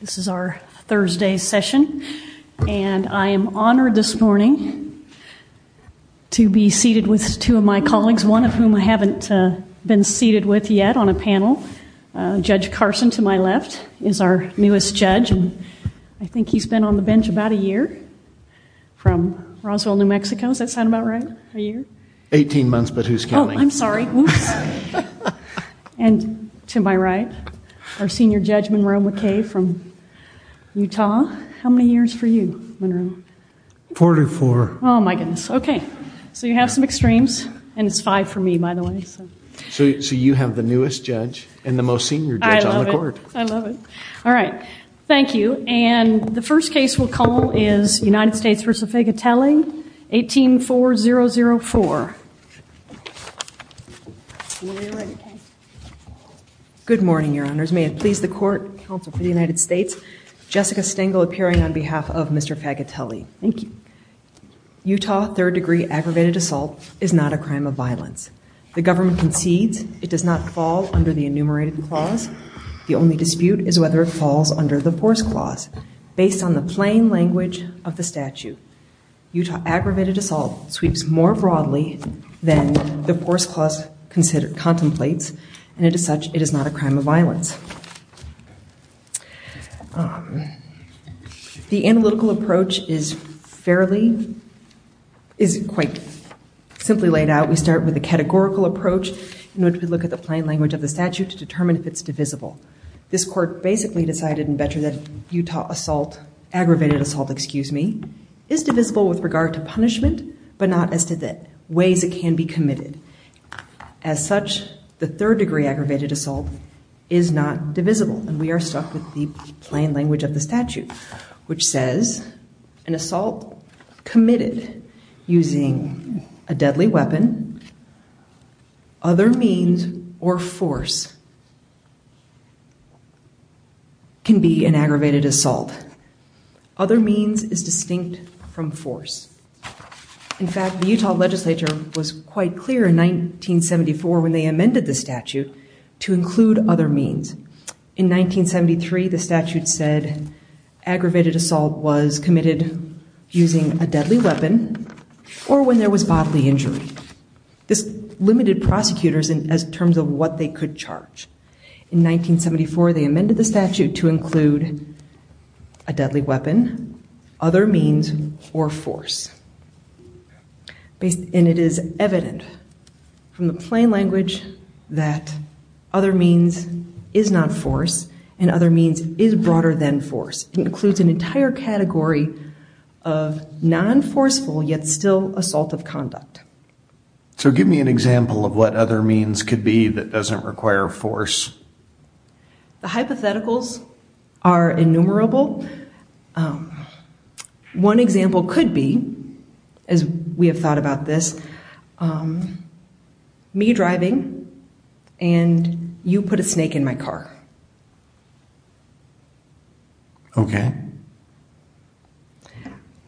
This is our Thursday session, and I am honored this morning to be seated with two of my colleagues, one of whom I haven't been seated with yet on a panel. Judge Carson, to my left, is our newest judge, and I think he's been on the bench about a year. From Roswell, New Mexico. Does that sound about right? A year? Eighteen months, but who's counting? Oh, I'm sorry. Whoops. And to my right, our senior judge, Monroe McKay from Utah. How many years for you, Monroe? Forty-four. Oh, my goodness. Okay. So you have some extremes, and it's five for me, by the way. So you have the newest judge and the most senior judge on the court. I love it. I love it. All right. Thank you. And the first case we'll call is United States v. Fagatele, 18-4004. Good morning, Your Honors. May it please the court, counsel for the United States, Jessica Stengel appearing on behalf of Mr. Fagatele. Thank you. Utah third-degree aggravated assault is not a crime of violence. The government concedes it does not fall under the enumerated clause. The only dispute is whether it falls under the force clause. Based on the plain language of the statute, Utah aggravated assault sweeps more broadly than the force clause contemplates, and as such, it is not a crime of violence. The analytical approach is fairly, is quite simply laid out. We start with a categorical approach in which we look at the plain language of the statute to determine if it's divisible. This court basically decided in Betra that Utah assault, aggravated assault, excuse me, is divisible with regard to punishment, but not as to the ways it can be committed. As such, the third-degree aggravated assault is not divisible, and we are stuck with the plain language of the statute, which says an assault committed using a deadly weapon, other means, or force can be an aggravated assault. Other means is distinct from force. In fact, the Utah legislature was quite clear in 1974 when they amended the statute to include other means. In 1973, the statute said aggravated assault was committed using a deadly weapon or when there was bodily injury. This limited prosecutors in terms of what they could charge. In 1974, they amended the statute to include a deadly weapon, other means, or force. And it is evident from the plain language that other means is not force and other means is broader than force. It includes an entire category of non-forceful, yet still assaultive conduct. So give me an example of what other means could be that doesn't require force. The hypotheticals are innumerable. One example could be, as we have thought about this, me driving and you put a snake in my car. Okay.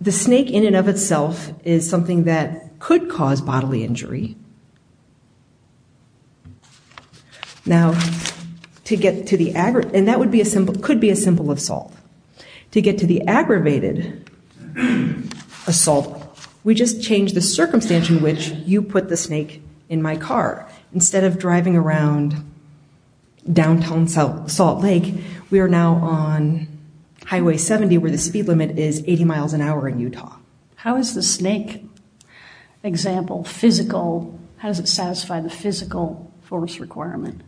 The snake in and of itself is something that could cause bodily injury. Now, to get to the aggravated, and that could be a symbol of assault. To get to the aggravated assault, we just change the circumstance in which you put the snake in my car. Instead of driving around downtown Salt Lake, we are now on Highway 70, where the speed limit is 80 miles an hour in Utah. How is the snake example physical? How does it satisfy the physical force requirement?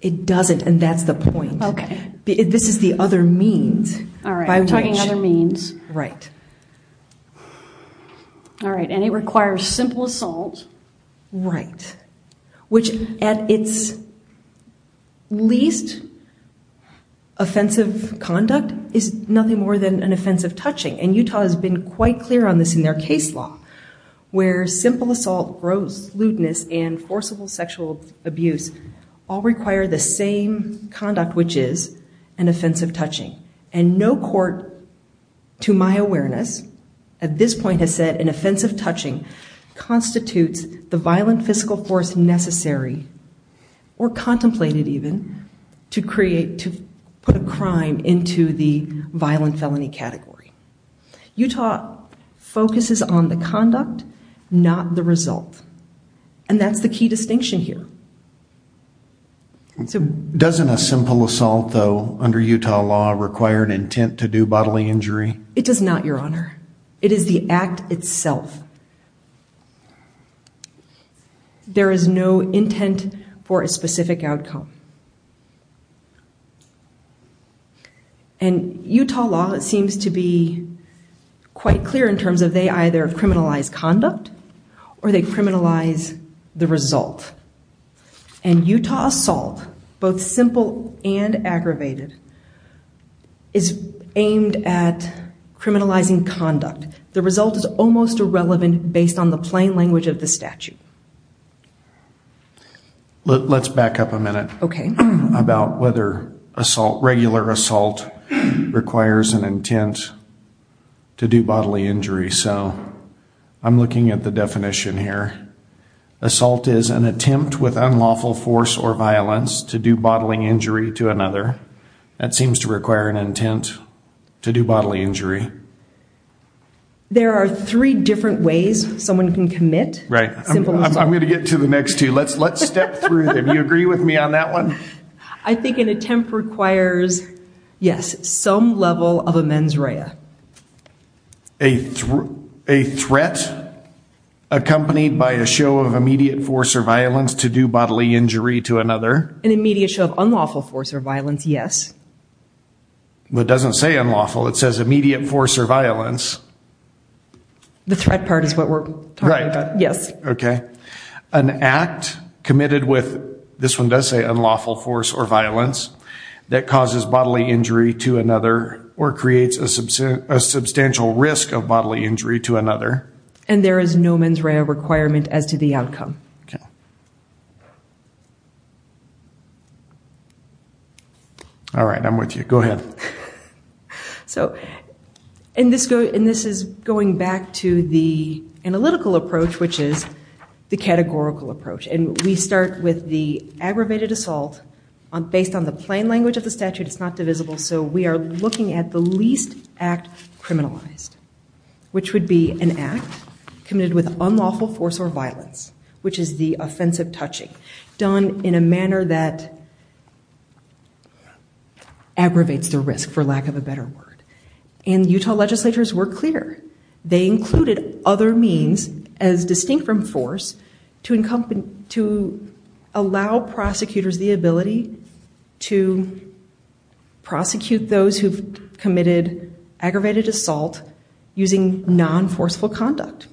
It doesn't, and that's the point. Okay. This is the other means. All right, we're talking other means. Right. All right, and it requires simple assault. Right. Which, at its least, offensive conduct is nothing more than an offensive touching. And Utah has been quite clear on this in their case law, where simple assault, gross lewdness, and forcible sexual abuse all require the same conduct, which is an offensive touching. And no court, to my awareness, at this point has said an offensive touching constitutes the violent physical force necessary, or contemplated even, to put a crime into the violent felony category. Utah focuses on the conduct, not the result. And that's the key distinction here. Doesn't a simple assault, though, under Utah law, require an intent to do bodily injury? It does not, Your Honor. It is the act itself. There is no intent for a specific outcome. And Utah law seems to be quite clear in terms of they either criminalize conduct or they criminalize the result. And Utah assault, both simple and aggravated, is aimed at criminalizing conduct. The result is almost irrelevant based on the plain language of the statute. Let's back up a minute about whether assault, regular assault, requires an intent to do bodily injury. So I'm looking at the definition here. Assault is an attempt with unlawful force or violence to do bodily injury to another. That seems to require an intent to do bodily injury. There are three different ways someone can commit. Right. I'm going to get to the next two. Let's step through them. Do you agree with me on that one? I think an attempt requires, yes, some level of a mens rea. A threat accompanied by a show of immediate force or violence to do bodily injury to another. An immediate show of unlawful force or violence, yes. It doesn't say unlawful. It says immediate force or violence. The threat part is what we're talking about. Right. Yes. Okay. An act committed with, this one does say unlawful force or violence, that causes bodily injury to another or creates a substantial risk of bodily injury to another. And there is no mens rea requirement as to the outcome. Okay. All right. I'm with you. Go ahead. So, and this is going back to the analytical approach, which is the categorical approach. And we start with the aggravated assault based on the plain language of the statute. It's not divisible. So we are looking at the least act criminalized, which would be an act committed with unlawful force or violence, which is the offensive touching done in a manner that aggravates the risk, for lack of a better word. And Utah legislatures were clear. They included other means as distinct from force to allow prosecutors the ability to prosecute those who've committed aggravated assault using non-forceful conduct.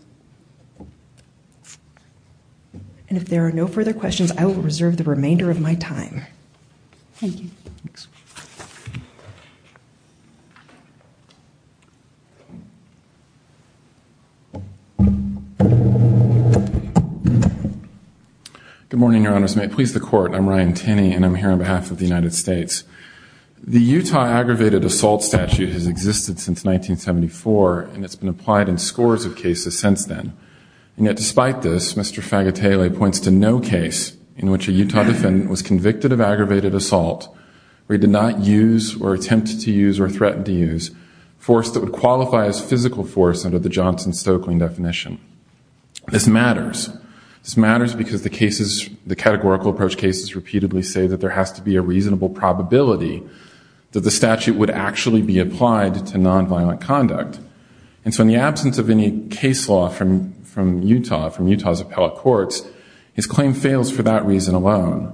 And if there are no further questions, I will reserve the remainder of my time. Thank you. Thanks. Good morning, Your Honors. May it please the Court. I'm Ryan Tenney, and I'm here on behalf of the United States. The Utah aggravated assault statute has existed since 1974, and it's been applied in scores of cases since then. And yet despite this, Mr. Fagatelli points to no case in which a Utah defendant was convicted of aggravated assault where he did not use or attempt to use or threaten to use force that would qualify as physical force under the Johnson-Stokelyn definition. This matters. This matters because the categorical approach cases repeatedly say that there has to be a reasonable probability that the statute would actually be applied to non-violent conduct. And so in the absence of any case law from Utah, from Utah's appellate courts, his claim fails for that reason alone.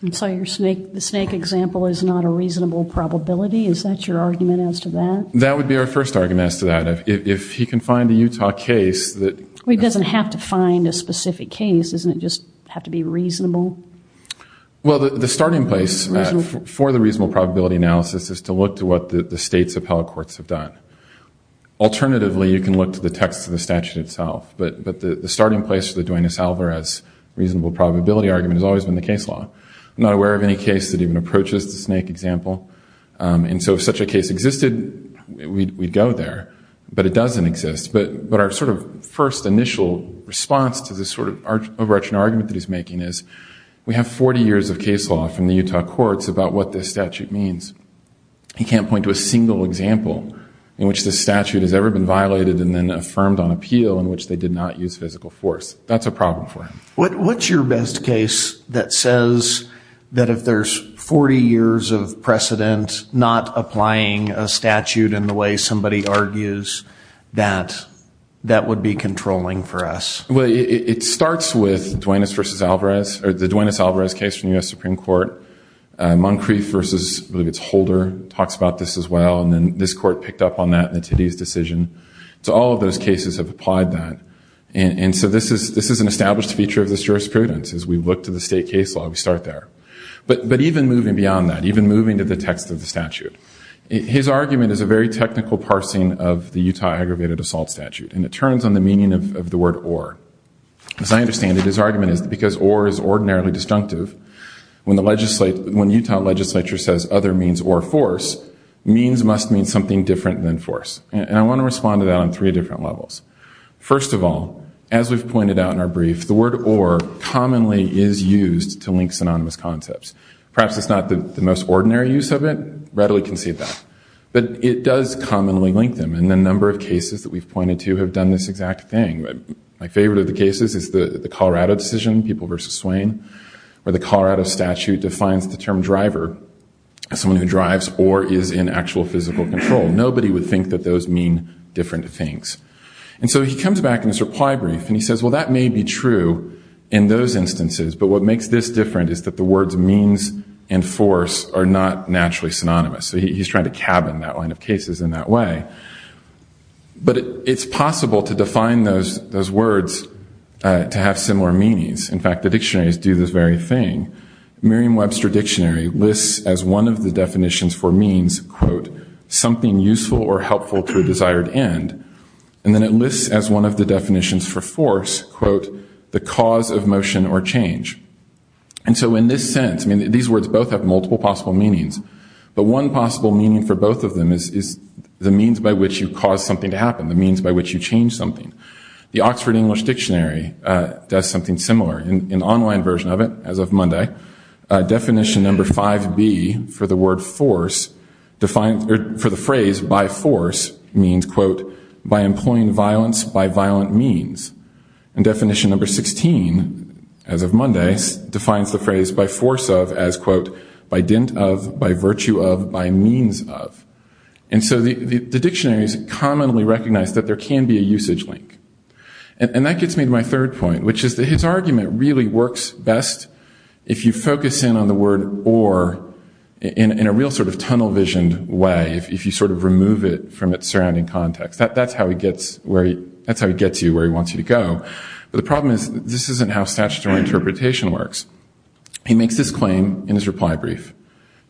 And so the snake example is not a reasonable probability? Is that your argument as to that? That would be our first argument as to that. If he can find a Utah case that- Well, he doesn't have to find a specific case. Doesn't it just have to be reasonable? Well, the starting place for the reasonable probability analysis is to look to what the state's appellate courts have done. Alternatively, you can look to the text of the statute itself. But the starting place for the Duenas-Alvarez reasonable probability argument has always been the case law. I'm not aware of any case that even approaches the snake example. And so if such a case existed, we'd go there. But it doesn't exist. But our sort of first initial response to this sort of overarching argument that he's making is, we have 40 years of case law from the Utah courts about what this statute means. He can't point to a single example in which this statute has ever been violated and then affirmed on appeal in which they did not use physical force. That's a problem for him. What's your best case that says that if there's 40 years of precedent, not applying a statute in the way somebody argues, that that would be controlling for us? Well, it starts with the Duenas-Alvarez case from the U.S. Supreme Court. Moncrief v. Holder talks about this as well. And then this court picked up on that in the Tiddy's decision. So all of those cases have applied that. And so this is an established feature of this jurisprudence. As we look to the state case law, we start there. But even moving beyond that, even moving to the text of the statute, his argument is a very technical parsing of the Utah Aggravated Assault Statute. And it turns on the meaning of the word or. As I understand it, his argument is because or is ordinarily disjunctive, when the Utah legislature says other means or force, means must mean something different than force. And I want to respond to that on three different levels. First of all, as we've pointed out in our brief, the word or commonly is used to link synonymous concepts. Perhaps it's not the most ordinary use of it, readily concede that. But it does commonly link them. And a number of cases that we've pointed to have done this exact thing. My favorite of the cases is the Colorado decision, People v. Swain, where the Colorado statute defines the term driver as someone who drives or is in actual physical control. Nobody would think that those mean different things. And so he comes back in his reply brief and he says, well that may be true in those instances, but what makes this different is that the words means and force are not naturally synonymous. So he's trying to cabin that line of cases in that way. But it's possible to define those words to have similar meanings. In fact, the dictionaries do this very thing. Merriam-Webster dictionary lists as one of the definitions for means, quote, something useful or helpful to a desired end. And then it lists as one of the definitions for force, quote, the cause of motion or change. And so in this sense, I mean, these words both have multiple possible meanings. But one possible meaning for both of them is the means by which you cause something to happen, the means by which you change something. The Oxford English Dictionary does something similar. An online version of it, as of Monday, definition number 5B for the phrase by force means, quote, by employing violence by violent means. And definition number 16, as of Monday, defines the phrase by force of as, quote, by dint of, by virtue of, by means of. And so the dictionaries commonly recognize that there can be a usage link. And that gets me to my third point, which is that his argument really works best if you focus in on the word or in a real sort of tunnel vision way, if you sort of remove it from its surrounding context. That's how he gets you where he wants you to go. But the problem is this isn't how statutory interpretation works. He makes this claim in his reply brief,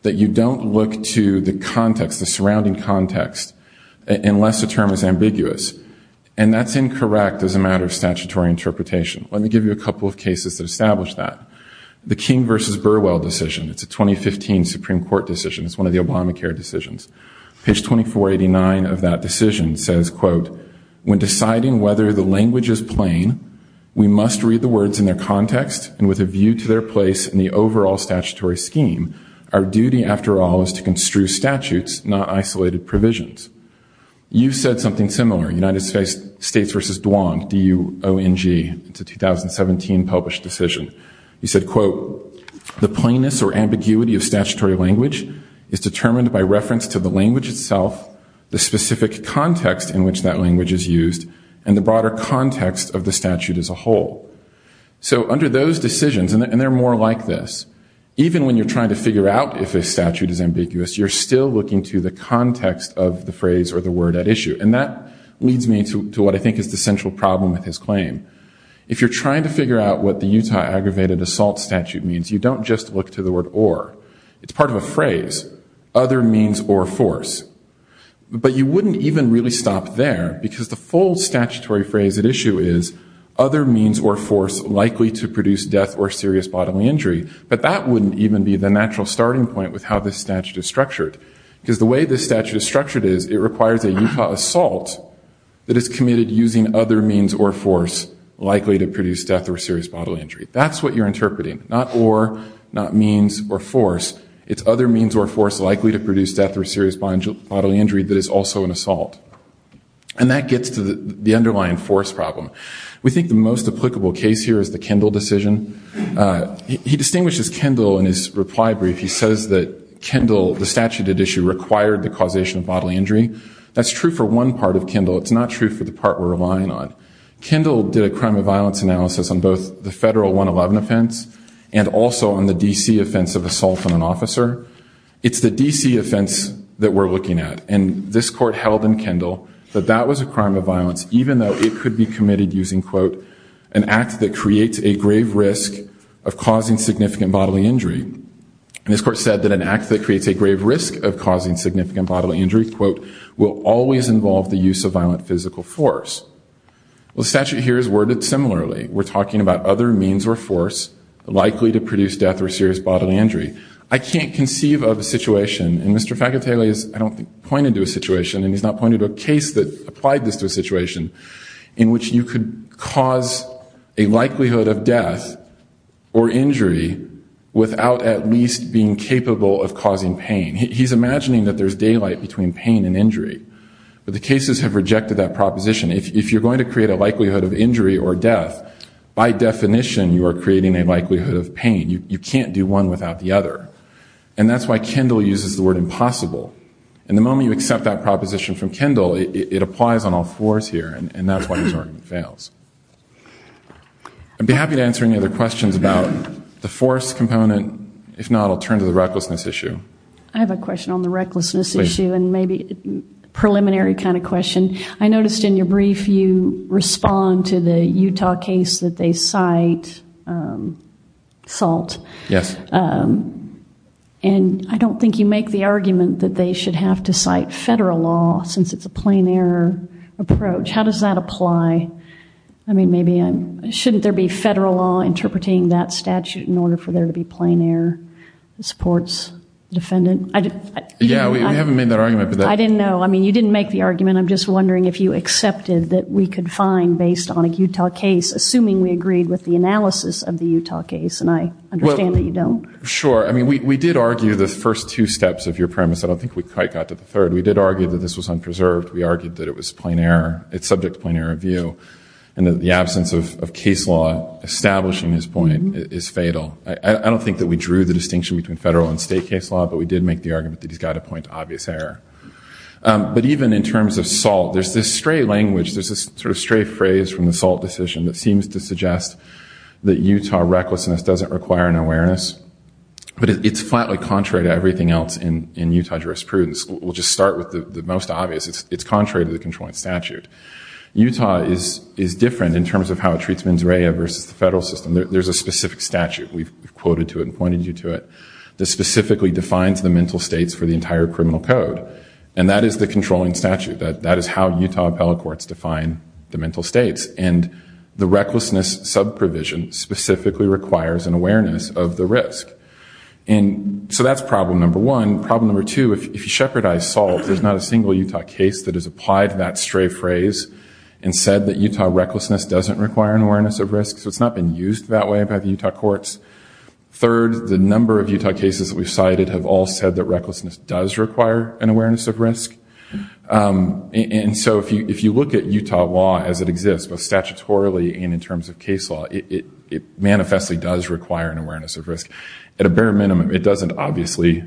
that you don't look to the context, the surrounding context, unless the term is ambiguous. And that's incorrect as a matter of statutory interpretation. Let me give you a couple of cases that establish that. The King versus Burwell decision. It's a 2015 Supreme Court decision. It's one of the Obamacare decisions. Page 2489 of that decision says, quote, when deciding whether the language is plain, we must read the words in their context, and with a view to their place in the overall statutory scheme. Our duty, after all, is to construe statutes, not isolated provisions. You said something similar, United States versus Duong, D-U-O-N-G. It's a 2017 published decision. You said, quote, the plainness or ambiguity of statutory language is determined by reference to the language itself, the specific context in which that language is used, and the broader context of the statute as a whole. So under those decisions, and they're more like this, even when you're trying to figure out if a statute is ambiguous, you're still looking to the context of the phrase or the word at issue. And that leads me to what I think is the central problem with his claim. If you're trying to figure out what the Utah Aggravated Assault Statute means, you don't just look to the word or. It's part of a phrase, other means or force. But you wouldn't even really stop there, because the full statutory phrase at issue is, other means or force likely to produce death or serious bodily injury. But that wouldn't even be the natural starting point with how this statute is structured. Because the way this statute is structured is, it requires a Utah assault that is committed using other means or force likely to produce death or serious bodily injury. That's what you're interpreting. Not or, not means, or force. It's other means or force likely to produce death or serious bodily injury that is also an assault. And that gets to the underlying force problem. We think the most applicable case here is the Kendall decision. He distinguishes Kendall in his reply brief. He says that Kendall, the statute at issue, required the causation of bodily injury. That's true for one part of Kendall. It's not true for the part we're relying on. Kendall did a crime of violence analysis on both the federal 111 offense and also on the D.C. offense of assault on an officer. It's the D.C. offense that we're looking at. And this court held in Kendall that that was a crime of violence, even though it could be committed using, quote, an act that creates a grave risk of causing significant bodily injury. And this court said that an act that creates a grave risk of causing significant bodily injury, quote, will always involve the use of violent physical force. Well, the statute here is worded similarly. We're talking about other means or force likely to produce death or serious bodily injury. I can't conceive of a situation, and Mr. Faccatelli has, I don't think, pointed to a situation, and he's not pointed to a case that applied this to a situation, in which you could cause a likelihood of death or injury without at least being capable of causing pain. He's imagining that there's daylight between pain and injury. But the cases have rejected that proposition. If you're going to create a likelihood of injury or death, by definition you are creating a likelihood of pain. You can't do one without the other. And that's why Kendall uses the word impossible. And the moment you accept that proposition from Kendall, it applies on all fours here, and that's why his argument fails. I'd be happy to answer any other questions about the force component. If not, I'll turn to the recklessness issue. I have a question on the recklessness issue, and maybe a preliminary kind of question. I noticed in your brief you respond to the Utah case that they cite SALT. Yes. And I don't think you make the argument that they should have to cite federal law, since it's a plain error approach. How does that apply? I mean, maybe shouldn't there be federal law interpreting that statute in order for there to be plain error that supports the defendant? Yeah, we haven't made that argument. I didn't know. I mean, you didn't make the argument. I'm just wondering if you accepted that we could find, based on a Utah case, assuming we agreed with the analysis of the Utah case. And I understand that you don't. Sure. I mean, we did argue the first two steps of your premise. I don't think we quite got to the third. We did argue that this was unpreserved. We argued that it was subject to plain error view and that the absence of case law establishing this point is fatal. I don't think that we drew the distinction between federal and state case law, but we did make the argument that he's got to point to obvious error. But even in terms of SALT, there's this stray language, there's this sort of stray phrase from the SALT decision that seems to suggest that Utah recklessness doesn't require an awareness. But it's flatly contrary to everything else in Utah jurisprudence. We'll just start with the most obvious. It's contrary to the controlling statute. Utah is different in terms of how it treats mens rea versus the federal system. There's a specific statute, we've quoted to it and pointed you to it, that specifically defines the mental states for the entire criminal code. And that is the controlling statute. That is how Utah appellate courts define the mental states. And the recklessness subprovision specifically requires an awareness of the risk. So that's problem number one. Problem number two, if you shepherdize SALT, there's not a single Utah case that has applied to that stray phrase and said that Utah recklessness doesn't require an awareness of risk. So it's not been used that way by the Utah courts. Third, the number of Utah cases that we've cited have all said that recklessness does require an awareness of risk. And so if you look at Utah law as it exists, both statutorily and in terms of case law, it manifestly does require an awareness of risk. At a bare minimum, it doesn't obviously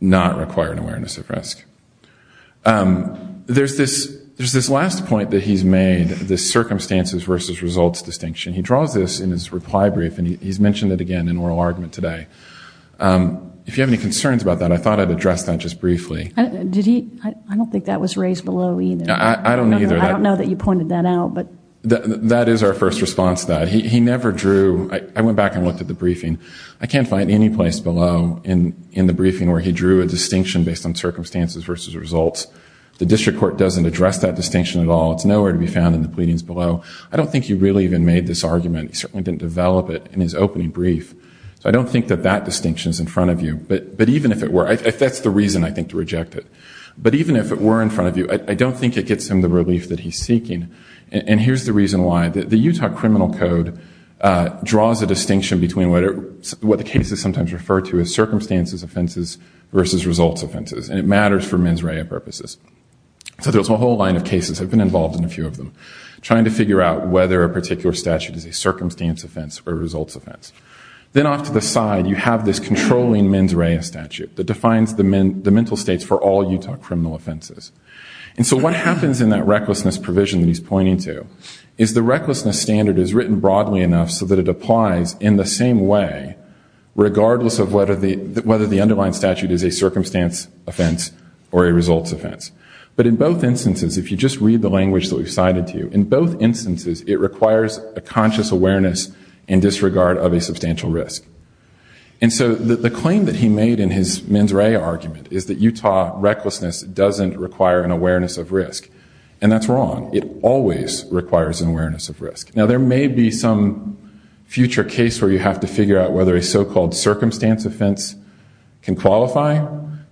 not require an awareness of risk. There's this last point that he's made, the circumstances versus results distinction. He draws this in his reply brief, and he's mentioned it again in oral argument today. If you have any concerns about that, I thought I'd address that just briefly. I don't think that was raised below either. I don't either. I don't know that you pointed that out. That is our first response to that. I went back and looked at the briefing. I can't find any place below in the briefing where he drew a distinction based on circumstances versus results. The district court doesn't address that distinction at all. It's nowhere to be found in the pleadings below. I don't think he really even made this argument. He certainly didn't develop it in his opening brief. So I don't think that that distinction is in front of you. But even if it were, that's the reason, I think, to reject it. But even if it were in front of you, I don't think it gets him the relief that he's seeking. And here's the reason why. The Utah Criminal Code draws a distinction between what the cases sometimes refer to as circumstances offenses versus results offenses, and it matters for mens rea purposes. So there's a whole line of cases. I've been involved in a few of them, trying to figure out whether a particular statute is a circumstance offense or a results offense. Then off to the side, you have this controlling mens rea statute that defines the mental states for all Utah criminal offenses. And so what happens in that recklessness provision that he's pointing to is the recklessness standard is written broadly enough so that it applies in the same way, regardless of whether the underlying statute is a circumstance offense or a results offense. But in both instances, if you just read the language that we've cited to you, in both instances it requires a conscious awareness in disregard of a substantial risk. And so the claim that he made in his mens rea argument is that Utah recklessness doesn't require an awareness of risk. And that's wrong. It always requires an awareness of risk. Now there may be some future case where you have to figure out whether a so-called circumstance offense can qualify,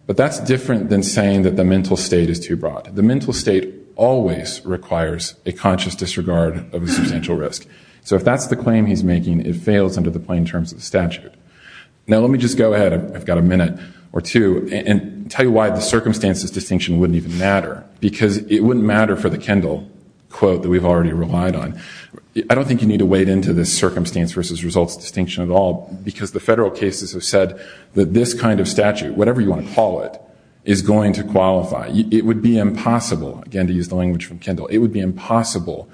but that's different than saying that the mental state is too broad. The mental state always requires a conscious disregard of a substantial risk. So if that's the claim he's making, it fails under the plain terms of the statute. Now let me just go ahead, I've got a minute or two, and tell you why the circumstances distinction wouldn't even matter. Because it wouldn't matter for the Kendall quote that we've already relied on. I don't think you need to wade into this circumstance versus results distinction at all, because the federal cases have said that this kind of statute, whatever you want to call it, is going to qualify. It would be impossible, again to use the language from Kendall, it would be impossible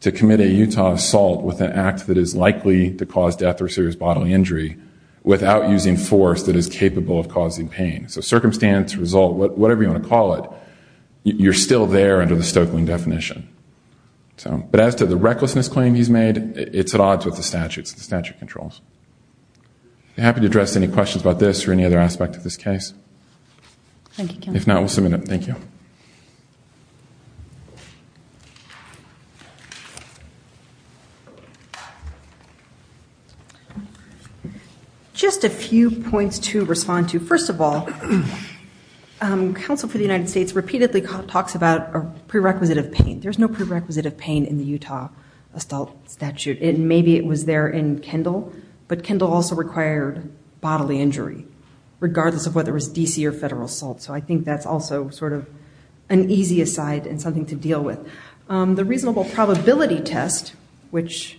to commit a Utah assault with an act that is likely to cause death or serious bodily injury without using force that is capable of causing pain. So circumstance, result, whatever you want to call it, you're still there under the Stokeland definition. But as to the recklessness claim he's made, it's at odds with the statutes and statute controls. Happy to address any questions about this or any other aspect of this case. If not, we'll submit it. Thank you. Just a few points to respond to. First of all, Counsel for the United States repeatedly talks about a prerequisite of pain. There's no prerequisite of pain in the Utah assault statute. Maybe it was there in Kendall, but Kendall also required bodily injury, regardless of whether it was D.C. or federal assault. So I think that's also sort of an issue. The reasonable probability test, which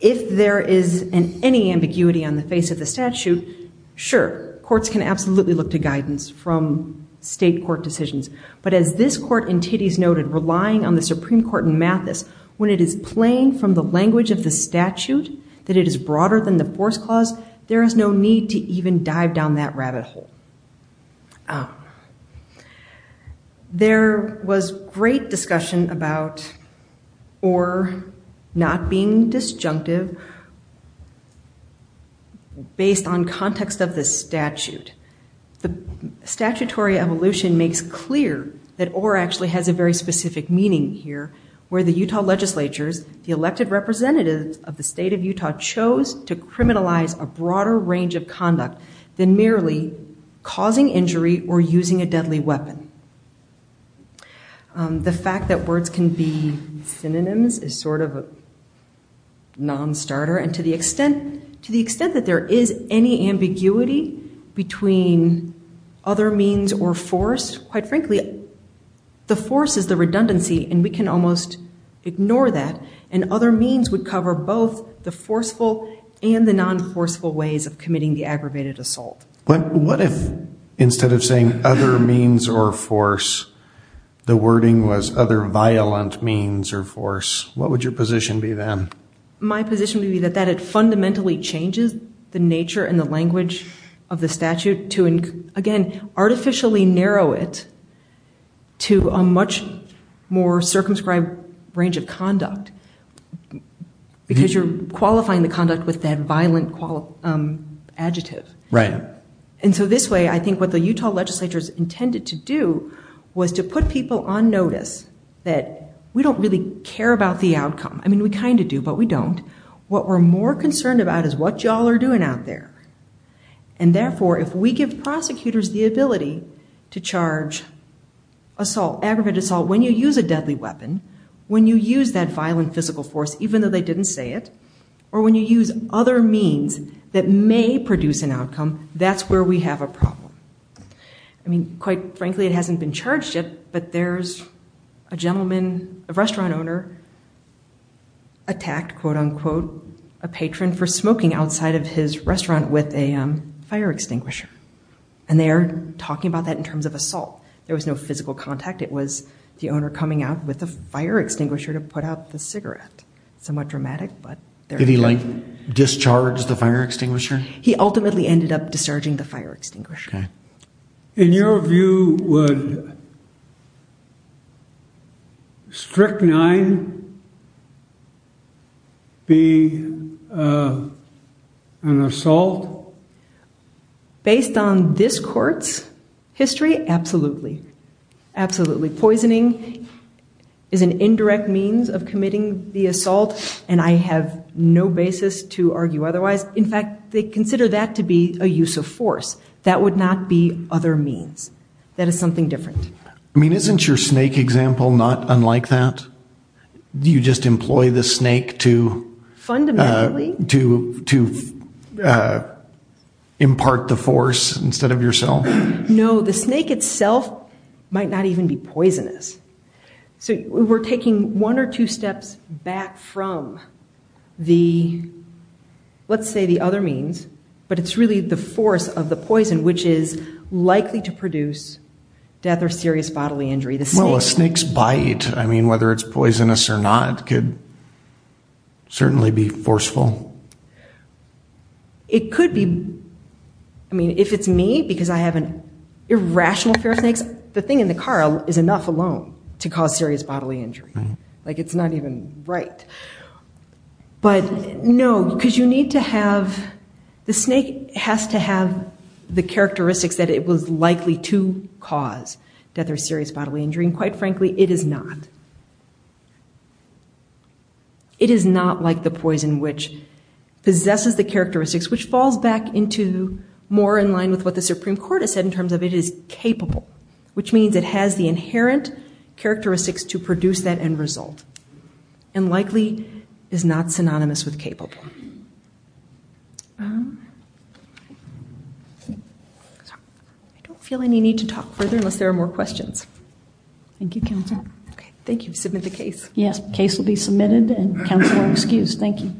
if there is any ambiguity on the face of the statute, sure, courts can absolutely look to guidance from state court decisions. But as this court in Titties noted, relying on the Supreme Court in Mathis, when it is plain from the language of the statute that it is broader than the force clause, there is no need to even dive down that rabbit hole. There was great discussion about OR not being disjunctive based on context of the statute. The statutory evolution makes clear that OR actually has a very specific meaning here, where the Utah legislatures, the elected representatives of the state of Utah, chose to criminalize a broader range of conduct than merely causing injury or using a deadly weapon. The fact that words can be synonyms is sort of a non-starter. And to the extent that there is any ambiguity between other means or force, quite frankly, the force is the redundancy, and we can almost ignore that. And other means would cover both the forceful and the non-forceful ways of committing the aggravated assault. What if instead of saying other means or force, the wording was other violent means or force? What would your position be then? My position would be that it fundamentally changes the nature and the language of the statute to, again, artificially narrow it to a much more circumscribed range of conduct, because you're qualifying the conduct with that violent adjective. And so this way, I think what the Utah legislatures intended to do was to put people on notice that we don't really care about the outcome. I mean, we kind of do, but we don't. What we're more concerned about is what y'all are doing out there. And therefore, if we give prosecutors the ability to charge assault, aggravated assault, when you use a deadly weapon, when you use that violent physical force, even though they didn't say it, or when you use other means that may produce an outcome, that's where we have a problem. I mean, quite frankly, it hasn't been charged yet, but there's a gentleman, a restaurant owner, attacked, quote, unquote, a patron for smoking outside of his restaurant with a fire extinguisher. And they are talking about that in terms of assault. There was no physical contact. It was the owner coming out with a fire extinguisher to put out the cigarette. Somewhat dramatic, but there it is. Did he, like, discharge the fire extinguisher? He ultimately ended up discharging the fire extinguisher. In your view, would Strychnine be an assault? Based on this court's history, absolutely. Absolutely. Poisoning is an indirect means of committing the assault, and I have no basis to argue otherwise. In fact, they consider that to be a use of force. That would not be other means. That is something different. I mean, isn't your snake example not unlike that? Do you just employ the snake to impart the force instead of yourself? No, the snake itself might not even be poisonous. So we're taking one or two steps back from the, let's say, the other means, but it's really the force of the poison, which is likely to produce death or serious bodily injury. Well, a snake's bite, I mean, whether it's poisonous or not, could certainly be forceful. It could be. I mean, if it's me, because I have an irrational fear of snakes, the thing in the car is enough alone to cause serious bodily injury. Like, it's not even right. But no, because you need to have the snake has to have the characteristics that it was likely to cause death or serious bodily injury, and quite frankly, it is not. It is not like the poison, which possesses the characteristics, which falls back into more in line with what the Supreme Court has said in terms of it is capable, which means it has the inherent characteristics to produce that end result and likely is not synonymous with capable. I don't feel any need to talk further unless there are more questions. Thank you, Counselor. Okay, thank you. Submit the case. Yes, case will be submitted and Counselor excused. Thank you.